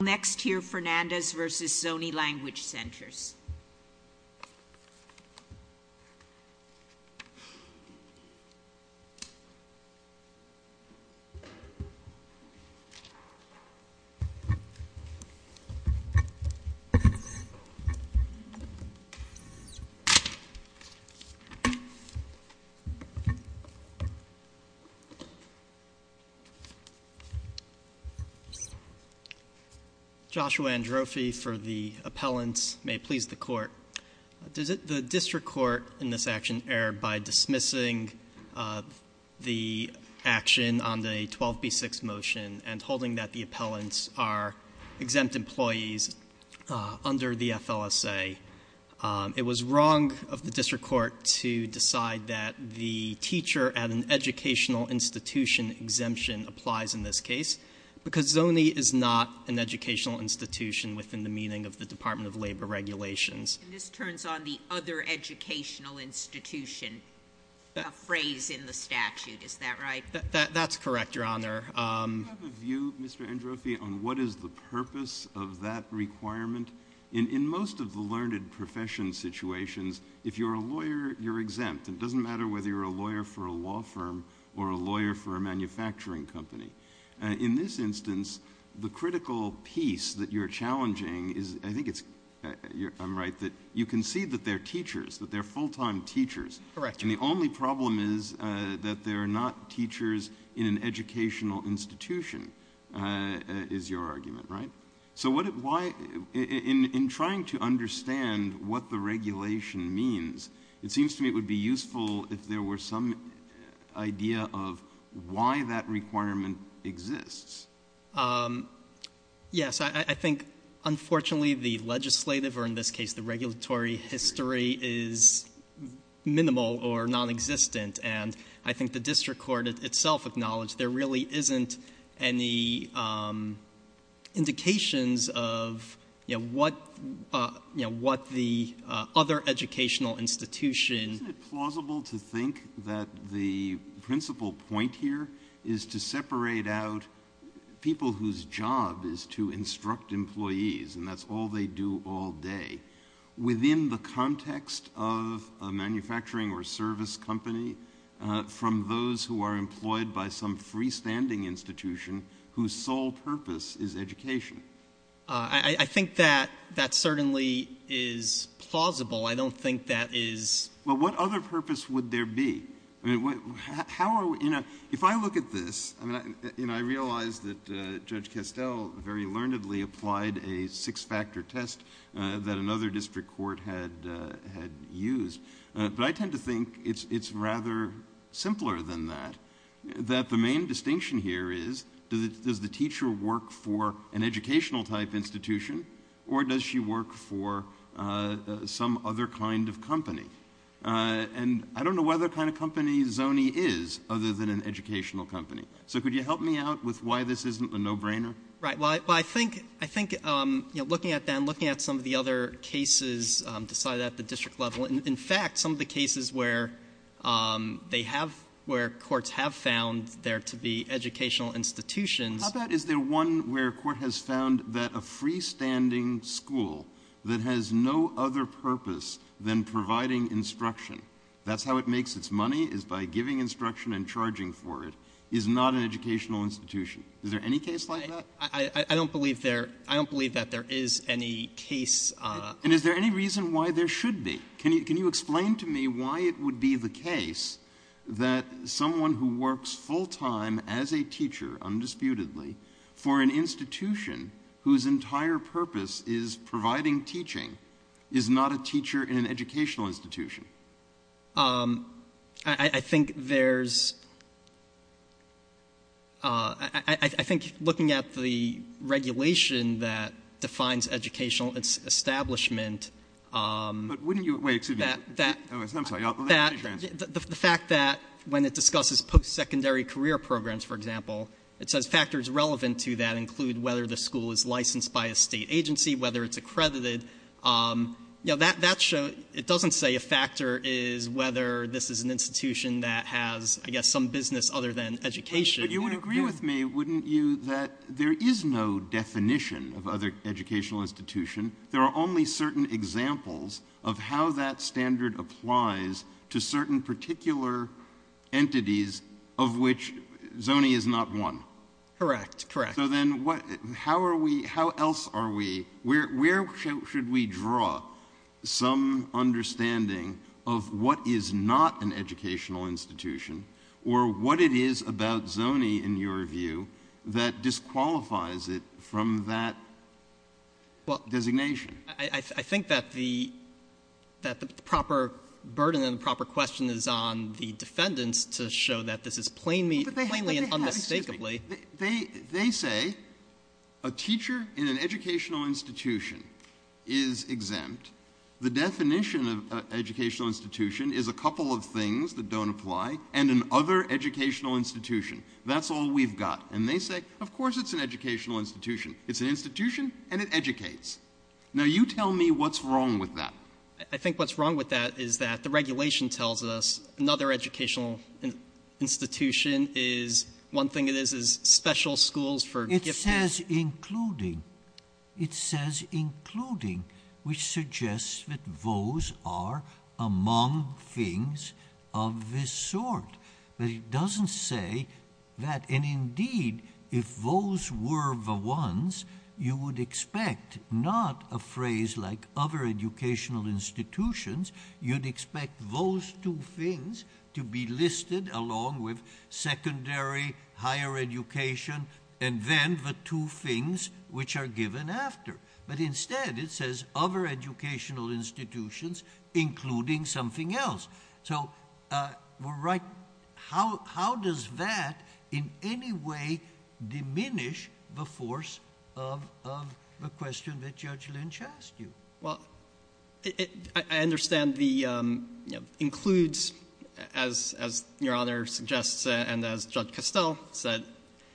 I'll next hear Fernandez v. Zoni Language Centers. Joshua Androfi for the appellants. May it please the court. The district court in this action erred by dismissing the action on the 12B6 motion and holding that the appellants are exempt employees under the FLSA. It was wrong of the district court to decide that the teacher at an educational institution exemption applies in this case because Zoni is not an educational institution within the meaning of the Department of Labor regulations. And this turns on the other educational institution phrase in the statute, is that right? That's correct, your honor. Do you have a view, Mr. Androfi, on what is the purpose of that requirement? In most of the learned profession situations, if you're a lawyer, you're exempt. It doesn't matter whether you're a lawyer for a law firm or a lawyer for a manufacturing company. In this instance, the critical piece that you're challenging is, I think it's, I'm right, that you can see that they're teachers, that they're full-time teachers. Correct. And the only problem is that they're not teachers in an educational institution, is your argument, right? So why in trying to understand what the regulation means, it seems to me it would be useful if there were some idea of why that requirement exists. Yes. I think, unfortunately, the legislative or, in this case, the regulatory history is minimal or nonexistent. And I think the district court itself acknowledged there really isn't any indications of what the other educational institution Isn't it plausible to think that the principal point here is to separate out people whose job is to instruct employees and that's all they do all day within the context of a manufacturing or service company from those who are employed by some freestanding institution whose sole purpose is education? I think that certainly is plausible. I don't think that is Well, what other purpose would there be? If I look at this, and I realize that Judge Kestel very learnedly applied a six-factor test that another district court had used, but I tend to think it's rather simpler than that, that the main distinction here is does the teacher work for an educational type institution or does she work for some other kind of company? And I don't know what other kind of company Zony is other than an educational company. So could you help me out with why this isn't a no-brainer? Right. Well, I think looking at that and looking at some of the other cases decided at the district level, in fact, some of the cases where courts have found there to be educational institutions How about is there one where a court has found that a freestanding school that has no other purpose than providing instruction, that's how it makes its money, is by giving instruction and charging for it, is not an educational institution? Is there any case like that? I don't believe there is any case And is there any reason why there should be? Can you explain to me why it would be the case that someone who works full-time as a teacher, undisputedly, for an institution whose entire purpose is providing teaching is not a teacher in an educational institution? I think there's I think looking at the regulation that defines educational establishment But wouldn't you, wait, excuse me, I'm sorry, I'll let you answer. The fact that when it discusses post-secondary career programs, for example, it says factors relevant to that include whether the school is licensed by a State agency, whether it's accredited, it doesn't say a factor is whether this is an institution that has I guess some business other than education. But you would agree with me, wouldn't you, that there is no definition of other educational institution. There are only certain examples of how that standard applies to certain particular entities of which ZONI is not one. So then how else are we, where should we draw some understanding of what is not an educational institution or what it is about ZONI, in your view, that disqualifies it from that designation? I think that the proper burden and the proper question is on the defendants to show that this is plainly and unmistakably They say a teacher in an educational institution is exempt. The definition of educational institution is a couple of things that don't apply and an other educational institution. That's all we've got. And they say of course it's an educational institution. It's an institution and it educates. Now you tell me what's wrong with that. I think what's wrong with that is that the regulation tells us another educational institution is, one thing it is, is special schools for gifted. It says including. It says including, which suggests that those are among things of this sort. But it doesn't say that. And indeed, if those were the ones, you would expect not a phrase like other educational institutions. You'd expect those two things to be listed along with secondary higher education and then the two things which are given after. But instead it says other educational institutions including something else. How does that in any way diminish the force of the question that Judge Lynch asked you? I understand the includes, as your Honor suggests and as Judge Castell said,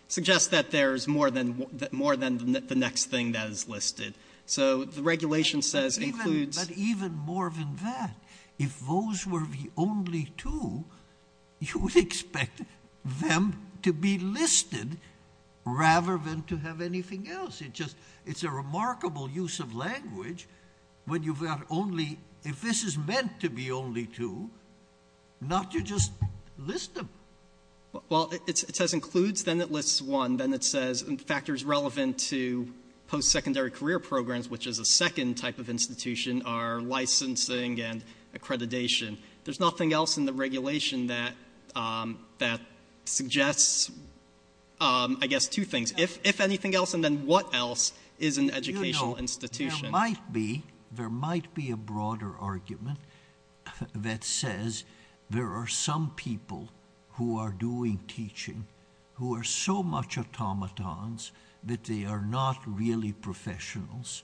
suggests that there's more than the next thing that is listed. So the regulation says includes. But even more than that, if those were the only two, you would expect them to be listed rather than to have anything else. It's a remarkable use of language when you've got only, if this is meant to be only two, not to just list them. It says includes, then it lists one. Then it says factors relevant to post-secondary career programs, which is a second type of institution, are licensing and accreditation. There's nothing else in the regulation that suggests two things. If anything else and then what else is an educational institution? There might be a broader argument that says there are some people who are doing teaching who are so much automatons that they are not really professionals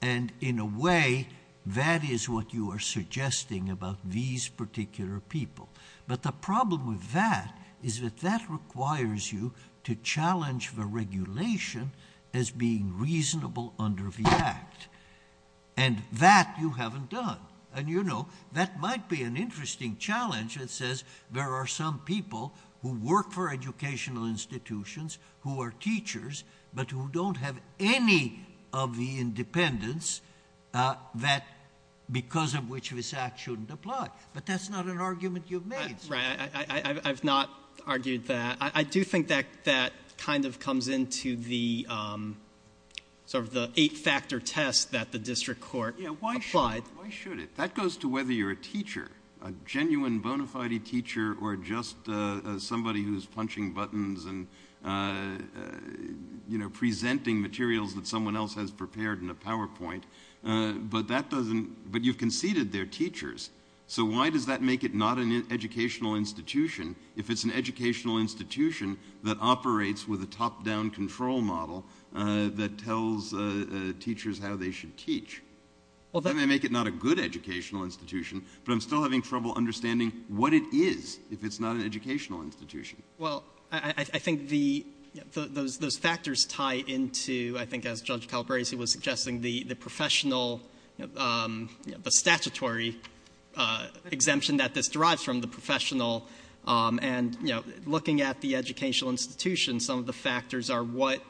and in a way that is what you are suggesting about these particular people. But the problem with that is that that requires you to challenge the regulation as being reasonable under the Act. And that you haven't done. And you know, that might be an interesting challenge. It says there are some people who work for educational institutions who are teachers but who don't have any of the independence because of which this Act shouldn't apply. But that's not an argument you've made. Right. I've not argued that. I do think that kind of comes into the sort of the eight-factor test that the district court applied. Why should it? That goes to whether you're a teacher, a genuine bona fide teacher or just somebody who's punching buttons and you know, presenting materials that someone else has prepared in a PowerPoint. But that doesn't, but you've conceded they're teachers. So why does that make it not an educational institution if it's an educational institution that operates with a top-down control model that tells teachers how they should teach? That may make it not a good educational institution, but I'm still having trouble understanding what it is if it's not an educational institution. Well, I think those factors tie into I think as Judge Calabresi was suggesting, the professional you know, the statutory exemption that this derives from, the professional. And you know, looking at the educational institution, some of the factors are what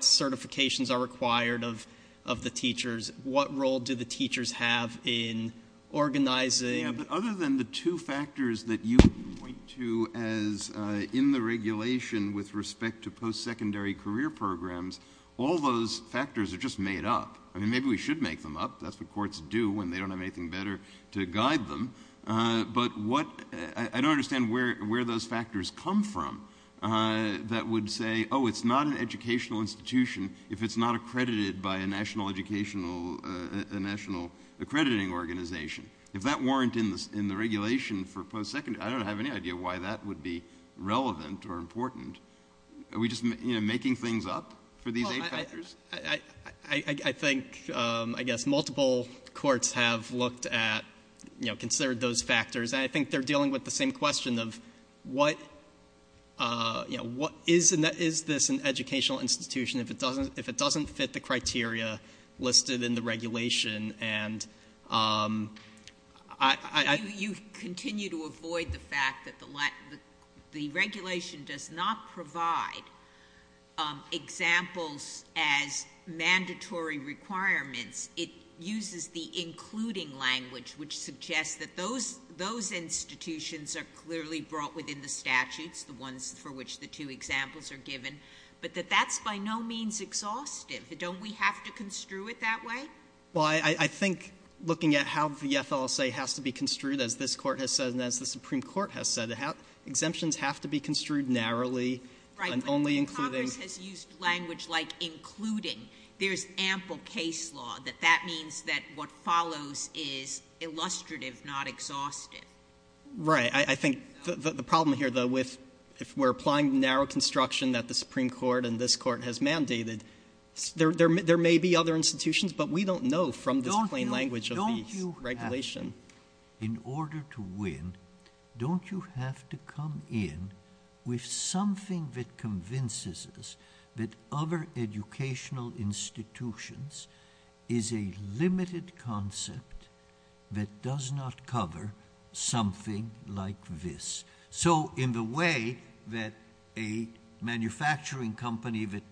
certifications are required of the teachers, what role do the teachers have in organizing. Yeah, but other than the two factors that you point to as in the regulation with respect to post-secondary career programs, all those factors are just made up. I mean, maybe we should make them up. That's what courts do when they don't have anything better to guide them. But what, I don't understand where those factors come from that would say, oh, it's not an educational institution if it's not accredited by a national educational, a national accrediting organization. If that weren't in the regulation for post-secondary, I don't have any idea why that would be relevant or important. Are we just, you know, making things up for these eight factors? I think, I guess, multiple courts have looked at, you know, considered those factors, and I think they're dealing with the same question of what, you know, what is in that, is this an educational institution if it doesn't, if it doesn't fit the criteria listed in the regulation? And I... You continue to avoid the fact that the regulation does not provide examples as mandatory requirements. It uses the including language, which suggests that those institutions are clearly brought within the statutes, the ones for which the two examples are given, but that that's by no means exhaustive. Don't we have to construe it that way? Well, I think, looking at how the FLSA has to be construed, as this Court has said, and as the Supreme Court has said, exemptions have to be construed narrowly and only including... Right, but Congress has used language like including. There's ample case law that that means that what follows is illustrative, not exhaustive. Right. I think the problem here, though, with if we're applying narrow construction that the Supreme Court and this Court has mandated, there may be other institutions, but we don't know from this plain language of the regulation. In order to win, don't you have to come in with something that convinces us that other educational institutions is a limited concept that does not cover something like this? So in the way that a manufacturing company that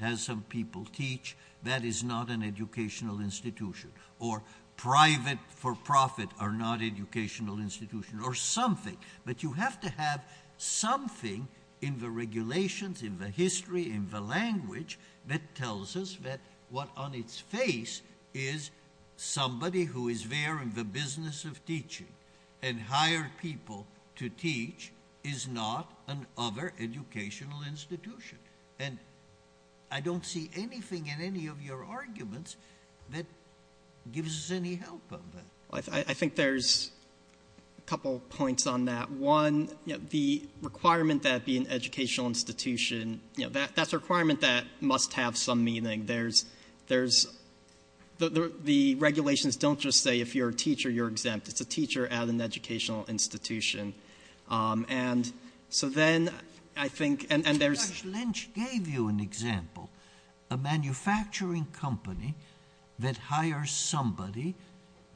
has some people teach, that is not an educational institution. Or private for profit are not educational institutions, or something. But you have to have something in the regulations, in the history, in the language that tells us that what on its face is somebody who is there in the business of teaching and hire people to teach is not an other educational institution. And I don't see anything in any of your arguments that gives us any help on that. I think there's a couple of points on that. One, the requirement that it be an educational institution, that's a requirement that must have some meaning. The regulations don't just say if you're a teacher, you're exempt. It's a teacher at an educational institution. Dr. Lynch gave you an example. A manufacturing company that hires somebody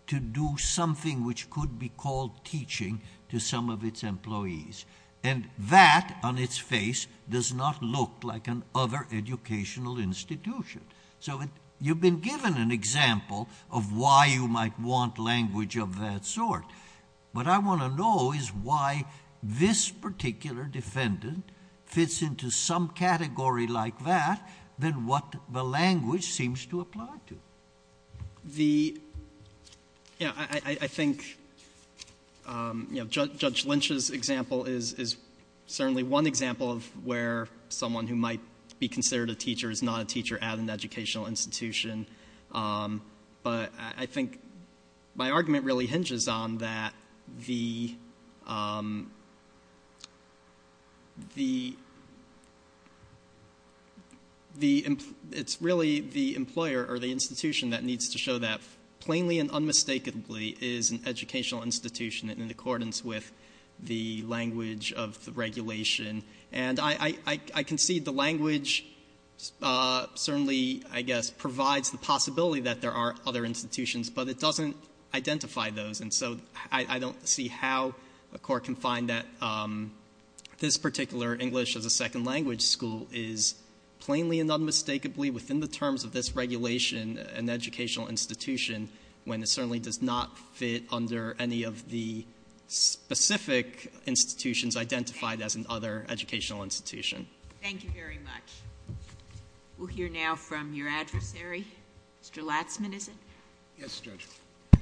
to do something which could be called teaching to some of its employees. And that, on its face, does not look like an other educational institution. So you've been given an example of why you might want language of that sort. What I want to know is why this particular defendant fits into some category like that than what the language seems to apply to. I think Judge Lynch's example is certainly one example of where someone who might be considered a teacher is not a teacher at an educational institution. But I think my argument really hinges on that. It's really the employer or the institution that needs to show that plainly and unmistakably is an educational institution in accordance with the language of the regulation. And I concede the language certainly, I guess, provides the possibility that there are other institutions, but it doesn't identify those. And so I don't see how a court can find that this particular English as a Second Language school is plainly and unmistakably within the terms of this regulation an educational institution, when it certainly does not fit under any of the specific institutions identified as an other educational institution. Thank you very much. We'll hear now from your adversary. Mr. Latzman, is it? Yes, Judge.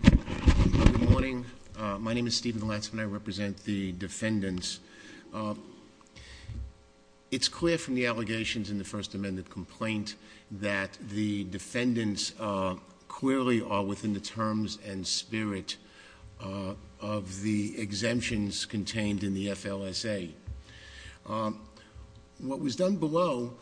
Good morning. My name is Stephen Latzman. I represent the defendants. It's clear from the allegations in the First Amendment complaint that the defendants clearly are within the terms and spirit of the exemptions contained in the FLSA. What was done below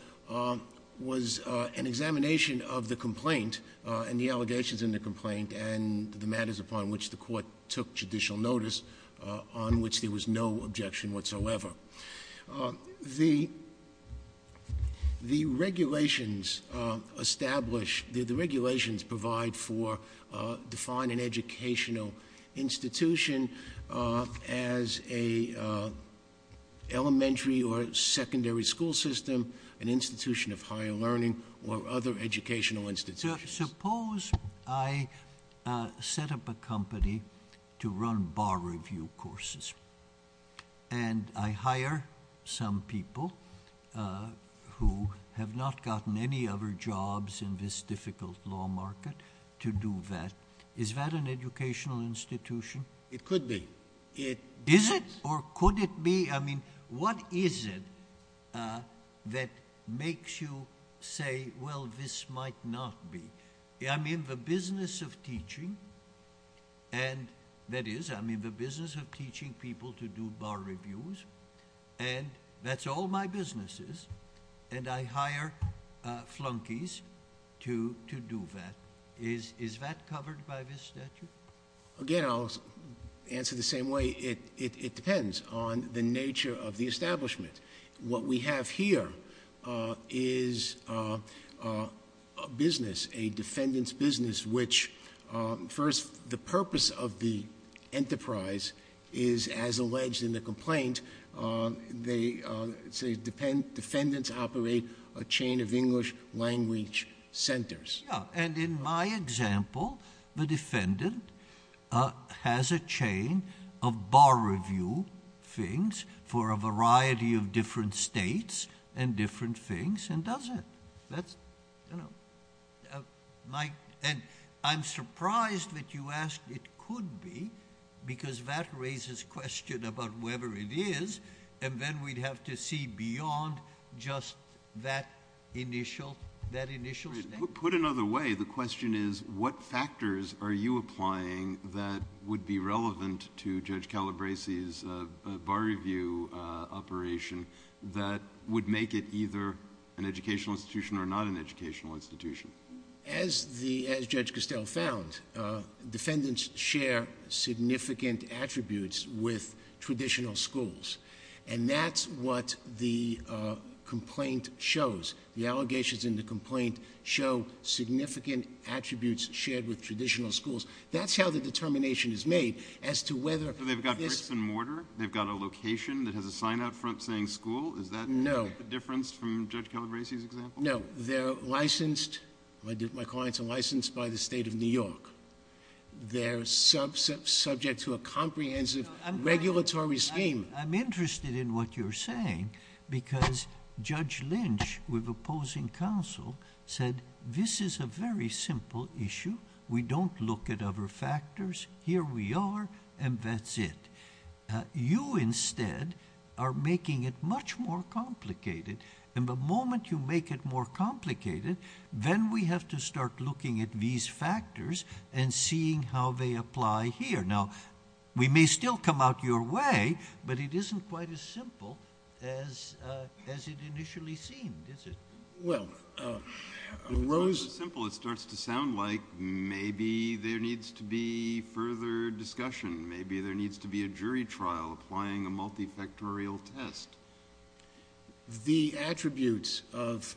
was an examination of the complaint and the allegations in the complaint and the matters upon which the court took judicial notice on which there was no objection whatsoever. The regulations establish, the regulations provide for defining educational institution as a elementary or secondary school system, an institution of higher learning or other educational institutions. Suppose I set up a company to run bar review courses and I hire some people who have not gotten any other jobs in this difficult law market to do that. Is that an educational institution? It could be. Is it or could it be? I mean, what is it that makes you say, well, this might not be? I'm in the business of teaching and that is, I'm in the business of teaching people to do bar reviews and that's all my business is, and I hire flunkies to do that. Is that covered by this statute? Again, I'll answer the same way. It depends on the nature of the establishment. What we have here is a business, a defendant's business, which first, the purpose of the enterprise is, as alleged in the complaint, say defendants operate a chain of English language centers. Yeah, and in my example, the defendant has a chain of bar review things for a variety of different states and different things and does it. I'm surprised that you asked it could be because that raises question about whether it is and then we'd have to see beyond just that initial state. Put another way, the question is, what factors are you applying that would be relevant to Judge Calabresi's bar review operation that would make it either an educational institution or not an educational institution? As Judge Costell found, defendants share significant attributes with traditional schools and that's what the complaint shows. The allegations in the complaint show significant attributes shared with traditional schools. That's how the determination is made as to whether... So they've got bricks and mortar? They've got a location that has a sign out front saying school? No. Is that the difference from Judge Calabresi's example? No. They're licensed, my clients are licensed, by the state of New York. They're subject to a comprehensive regulatory scheme. I'm interested in what you're saying because Judge Lynch, with opposing counsel, said this is a very simple issue. We don't look at other factors. Here we are and that's it. You instead are making it much more complicated and the moment you make it more complicated, then we have to start looking at these factors and seeing how they apply here. Now, we may still come out your way, but it isn't quite as simple as it initially seemed, is it? Well, Rose... It's not so simple, it starts to sound like maybe there needs to be further discussion, maybe there needs to be a jury trial applying a multifactorial test. The attributes of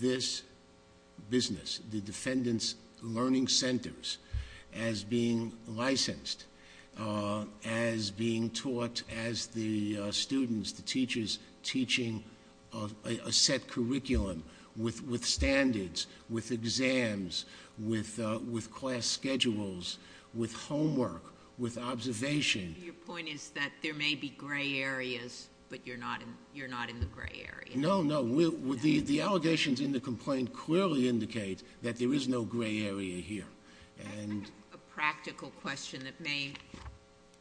this business, the defendants' learning centers, as being licensed, as being taught as the students, the teachers, teaching a set curriculum with standards, with exams, with class schedules, with homework, with observation... Your point is that there may be grey areas, but you're not in the grey area. No, no. The allegations in the complaint clearly indicate that there is no grey area here. I have a practical question that may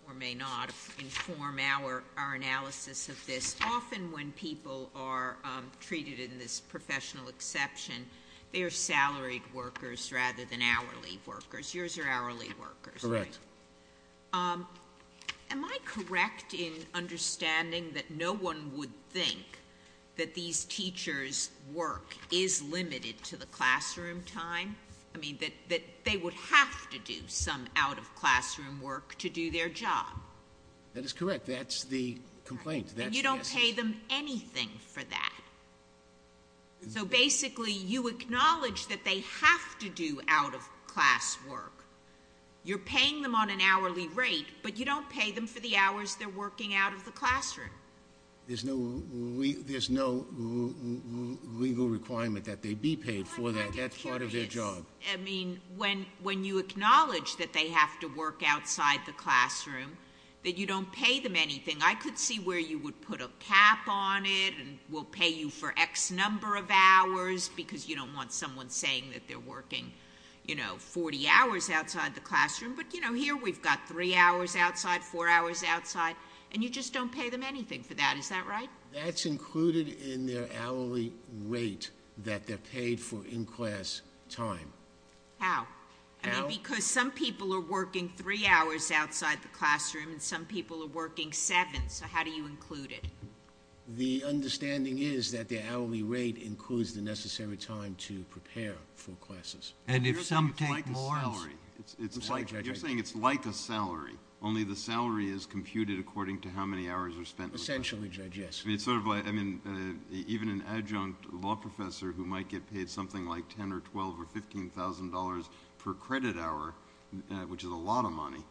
or may not inform our analysis of this. Often when people are treated in this professional exception, they are salaried workers rather than hourly workers. Yours are hourly workers, right? Correct. Am I correct in understanding that no one would think that these teachers' work is limited to the classroom time? I mean, that they would have to do some out-of-classroom work to do their job? That is correct. That's the complaint. And you don't pay them anything for that? So, basically, you acknowledge that they have to do out-of-class work. You're paying them on an hourly rate, but you don't pay them for the hours they're working out of the classroom. There's no legal requirement that they be paid for that. That's part of their job. I mean, when you acknowledge that they have to work outside the classroom, that you don't pay them anything, I could see where you would put a cap on it and we'll pay you for X number of hours because you don't want someone saying that they're working, you know, 40 hours outside the classroom, but, you know, here we've got 3 hours outside, 4 hours outside, and you just don't pay them anything for that. Is that right? That's included in their hourly rate that they're paid for in-class time. How? I mean, because some people are working 3 hours outside the classroom and some people are working 7, so how do you include it? The understanding is that their hourly rate includes the necessary time to prepare for classes. And if some take more hours... You're saying it's like a salary, only the salary is computed according to how many hours are spent... Essentially, Judge, yes. I mean, even an adjunct law professor who might get paid something like $10,000 or $12,000 or $15,000 per credit hour, which is a lot of money,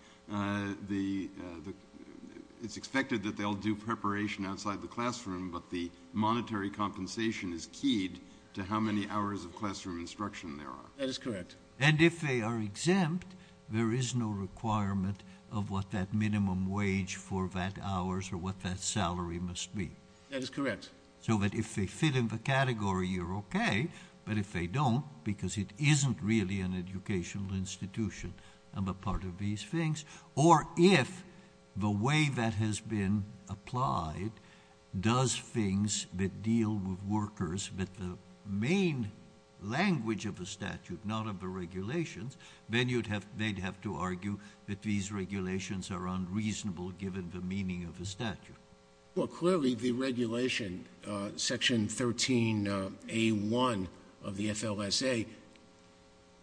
it's expected that they'll do preparation outside the classroom, but the monetary compensation is keyed to how many hours of classroom instruction there are. That is correct. And if they are exempt, there is no requirement of what that minimum wage for that hour or what that salary must be. That is correct. So that if they fit in the category, you're OK, but if they don't, because it isn't really an educational institution, I'm a part of these things. Or if the way that has been applied does things that deal with workers, but the main language of the statute, not of the regulations, then they'd have to argue that these regulations are unreasonable given the meaning of the statute. Well, clearly the regulation, section 13A1 of the FLSA,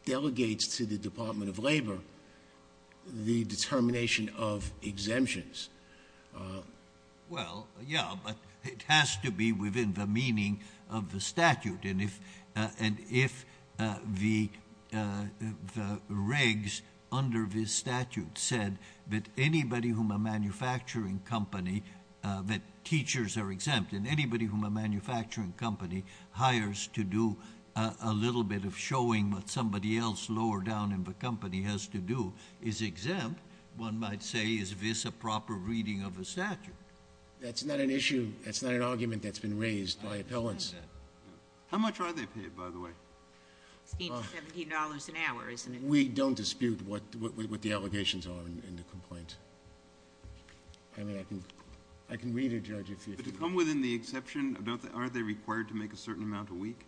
delegates to the Department of Labour the determination of exemptions. Well, yeah, but it has to be within the meaning of the statute. And if the regs under this statute said that anybody whom a manufacturing company, that teachers are exempt, and anybody whom a manufacturing company hires to do a little bit of showing what somebody else lower down in the company has to do is exempt, one might say, is this a proper reading of the statute? That's not an issue. That's not an argument that's been raised by appellants. How much are they paid, by the way? $17 an hour, isn't it? We don't dispute what the allegations are in the complaint. I mean, I can read it, Judge. But to come within the exception, are they required to make a certain amount a week?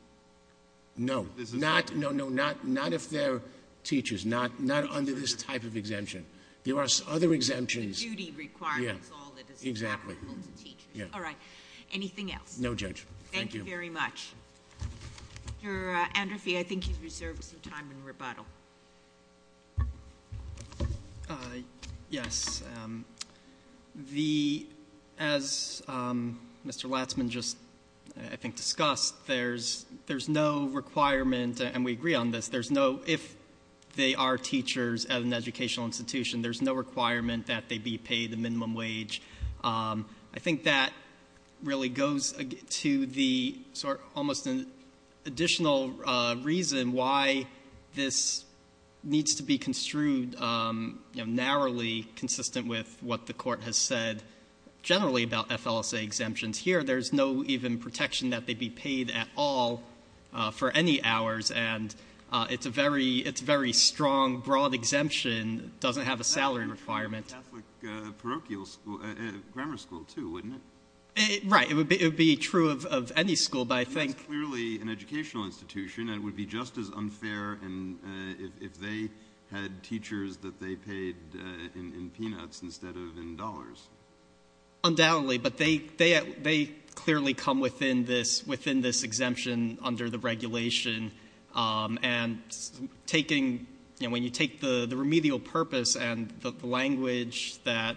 No. Not if they're teachers. Not under this type of exemption. There are other exemptions. The duty requirement is all that is applicable to teachers. Exactly. All right. Anything else? No, Judge. Thank you very much. Thank you. Mr. Anderfee, I think you've reserved some time in rebuttal. Yes. As Mr. Latzman just, I think, discussed, there's no requirement, and we agree on this, there's no, if they are teachers at an educational institution, there's no requirement that they be paid a minimum wage. I think that really goes to the sort of almost additional reason why this needs to be construed narrowly, consistent with what the Court has said generally about FLSA exemptions. Here, there's no even protection that they be paid at all for any hours, and it's a very strong, broad exemption. It doesn't have a salary requirement. That would be true of a Catholic parochial school, a grammar school too, wouldn't it? Right. It would be true of any school, but I think. That's clearly an educational institution, and it would be just as unfair if they had teachers that they paid in peanuts instead of in dollars. Undoubtedly. But they clearly come within this exemption under the regulation, and taking, you know, when you take the remedial purpose and the language that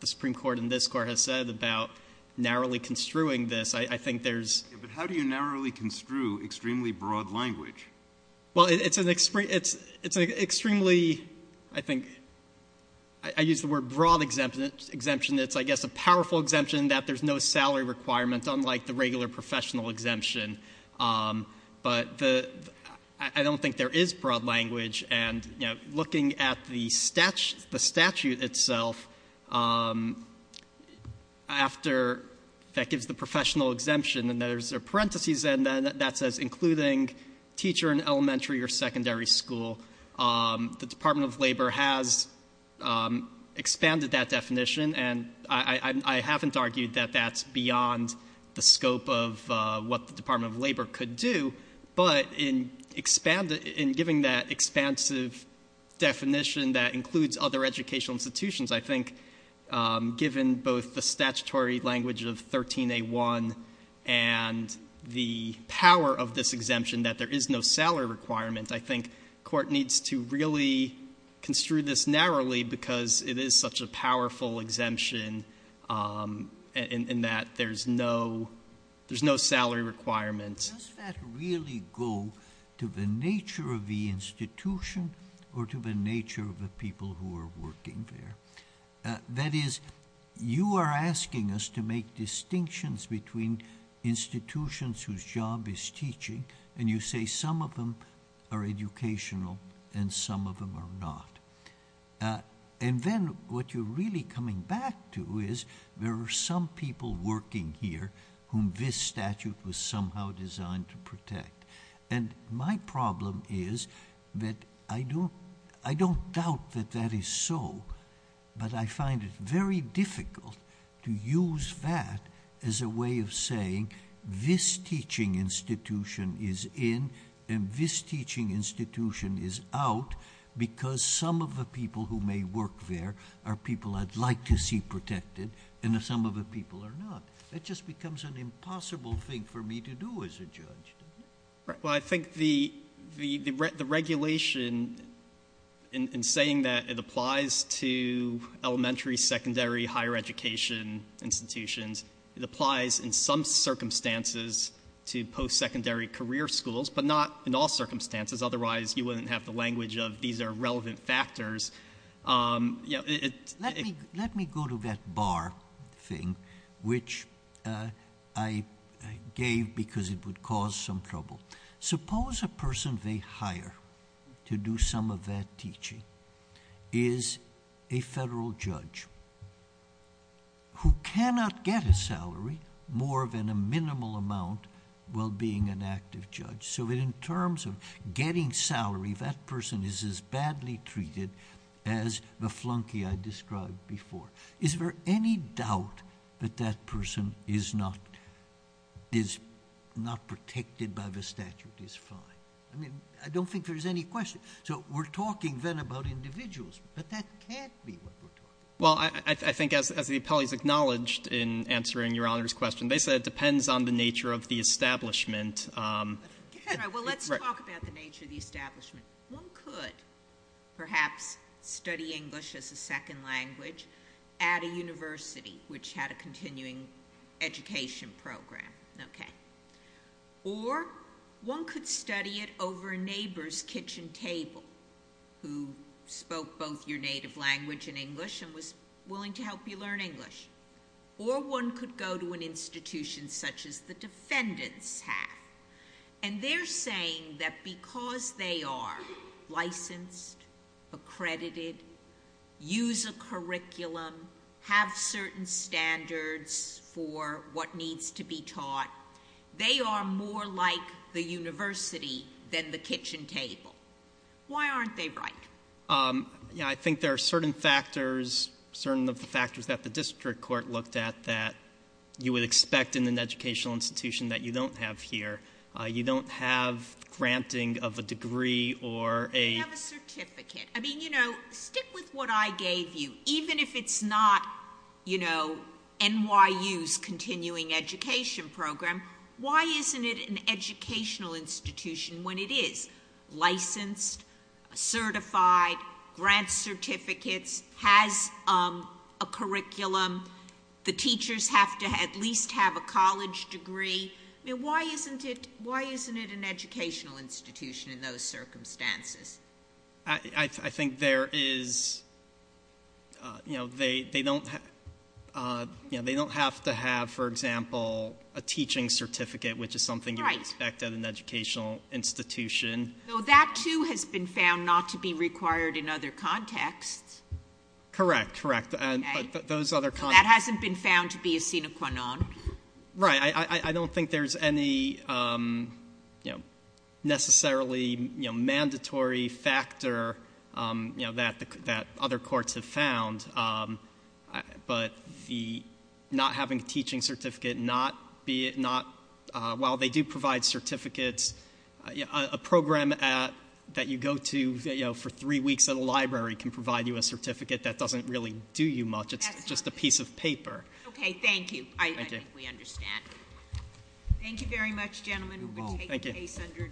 the Supreme Court and this Court have said about narrowly construing this, I think there's. But how do you narrowly construe extremely broad language? Well, it's an extremely, I think, I use the word broad exemption. It's, I guess, a powerful exemption that there's no salary requirement unlike the regular professional exemption. But I don't think there is broad language. And, you know, looking at the statute itself, after that gives the professional exemption and there's a parenthesis that says including teacher in elementary or secondary school, the Department of Labor has expanded that definition, of what the Department of Labor could do. But in giving that expansive definition that includes other educational institutions, I think given both the statutory language of 13A1 and the power of this exemption that there is no salary requirement, I think court needs to really construe this narrowly because it is such a powerful exemption and that there's no salary requirement. Does that really go to the nature of the institution or to the nature of the people who are working there? That is, you are asking us to make distinctions between institutions whose job is teaching and you say some of them are educational and some of them are not. And then what you're really coming back to is there are some people working here whom this statute was somehow designed to protect. And my problem is that I don't doubt that that is so, but I find it very difficult to use that as a way of saying this teaching institution is in and this teaching institution is out because some of the people who may work there are people I'd like to see protected and some of the people are not. It just becomes an impossible thing for me to do as a judge. Well, I think the regulation in saying that it applies to elementary, secondary, higher education institutions, it applies in some circumstances to post-secondary career schools, but not in all circumstances. Otherwise, you wouldn't have the language of, these are relevant factors. Let me go to that bar thing, which I gave because it would cause some trouble. Suppose a person they hire to do some of that teaching is a federal judge who cannot get a salary more than a minimal amount while being an active judge. So in terms of getting salary, that person is as badly treated as the flunky I described before. Is there any doubt that that person is not protected by the statute? It's fine. I mean, I don't think there's any question. So we're talking then about individuals, but that can't be what we're talking about. Well, I think as the appellees acknowledged in answering Your Honor's question, basically it depends on the nature of the establishment. Well, let's talk about the nature of the establishment. One could perhaps study English as a second language at a university which had a continuing education program. Or one could study it over a neighbor's kitchen table who spoke both your native language and English and was willing to help you learn English. Or one could go to an institution such as the defendants have. And they're saying that because they are licensed, accredited, use a curriculum, have certain standards for what needs to be taught, they are more like the university than the kitchen table. Why aren't they right? Yeah, I think there are certain factors, certain of the factors that the district court looked at that you would expect in an educational institution that you don't have here. You don't have granting of a degree or a- You don't have a certificate. I mean, you know, stick with what I gave you. Even if it's not, you know, NYU's continuing education program, why isn't it an educational institution when it is? It's licensed, certified, grants certificates, has a curriculum. The teachers have to at least have a college degree. I mean, why isn't it an educational institution in those circumstances? I think there is, you know, they don't have to have, for example, a teaching certificate, which is something you would expect at an educational institution. So that, too, has been found not to be required in other contexts. Correct, correct. But those other contexts- That hasn't been found to be a sine qua non. Right. I don't think there's any, you know, necessarily, you know, mandatory factor, you know, that other courts have found. But not having a teaching certificate, not- While they do provide certificates, a program that you go to, you know, for three weeks at a library can provide you a certificate. That doesn't really do you much. It's just a piece of paper. Okay, thank you. I think we understand. Thank you very much, gentlemen. We're going to take the case under advisement.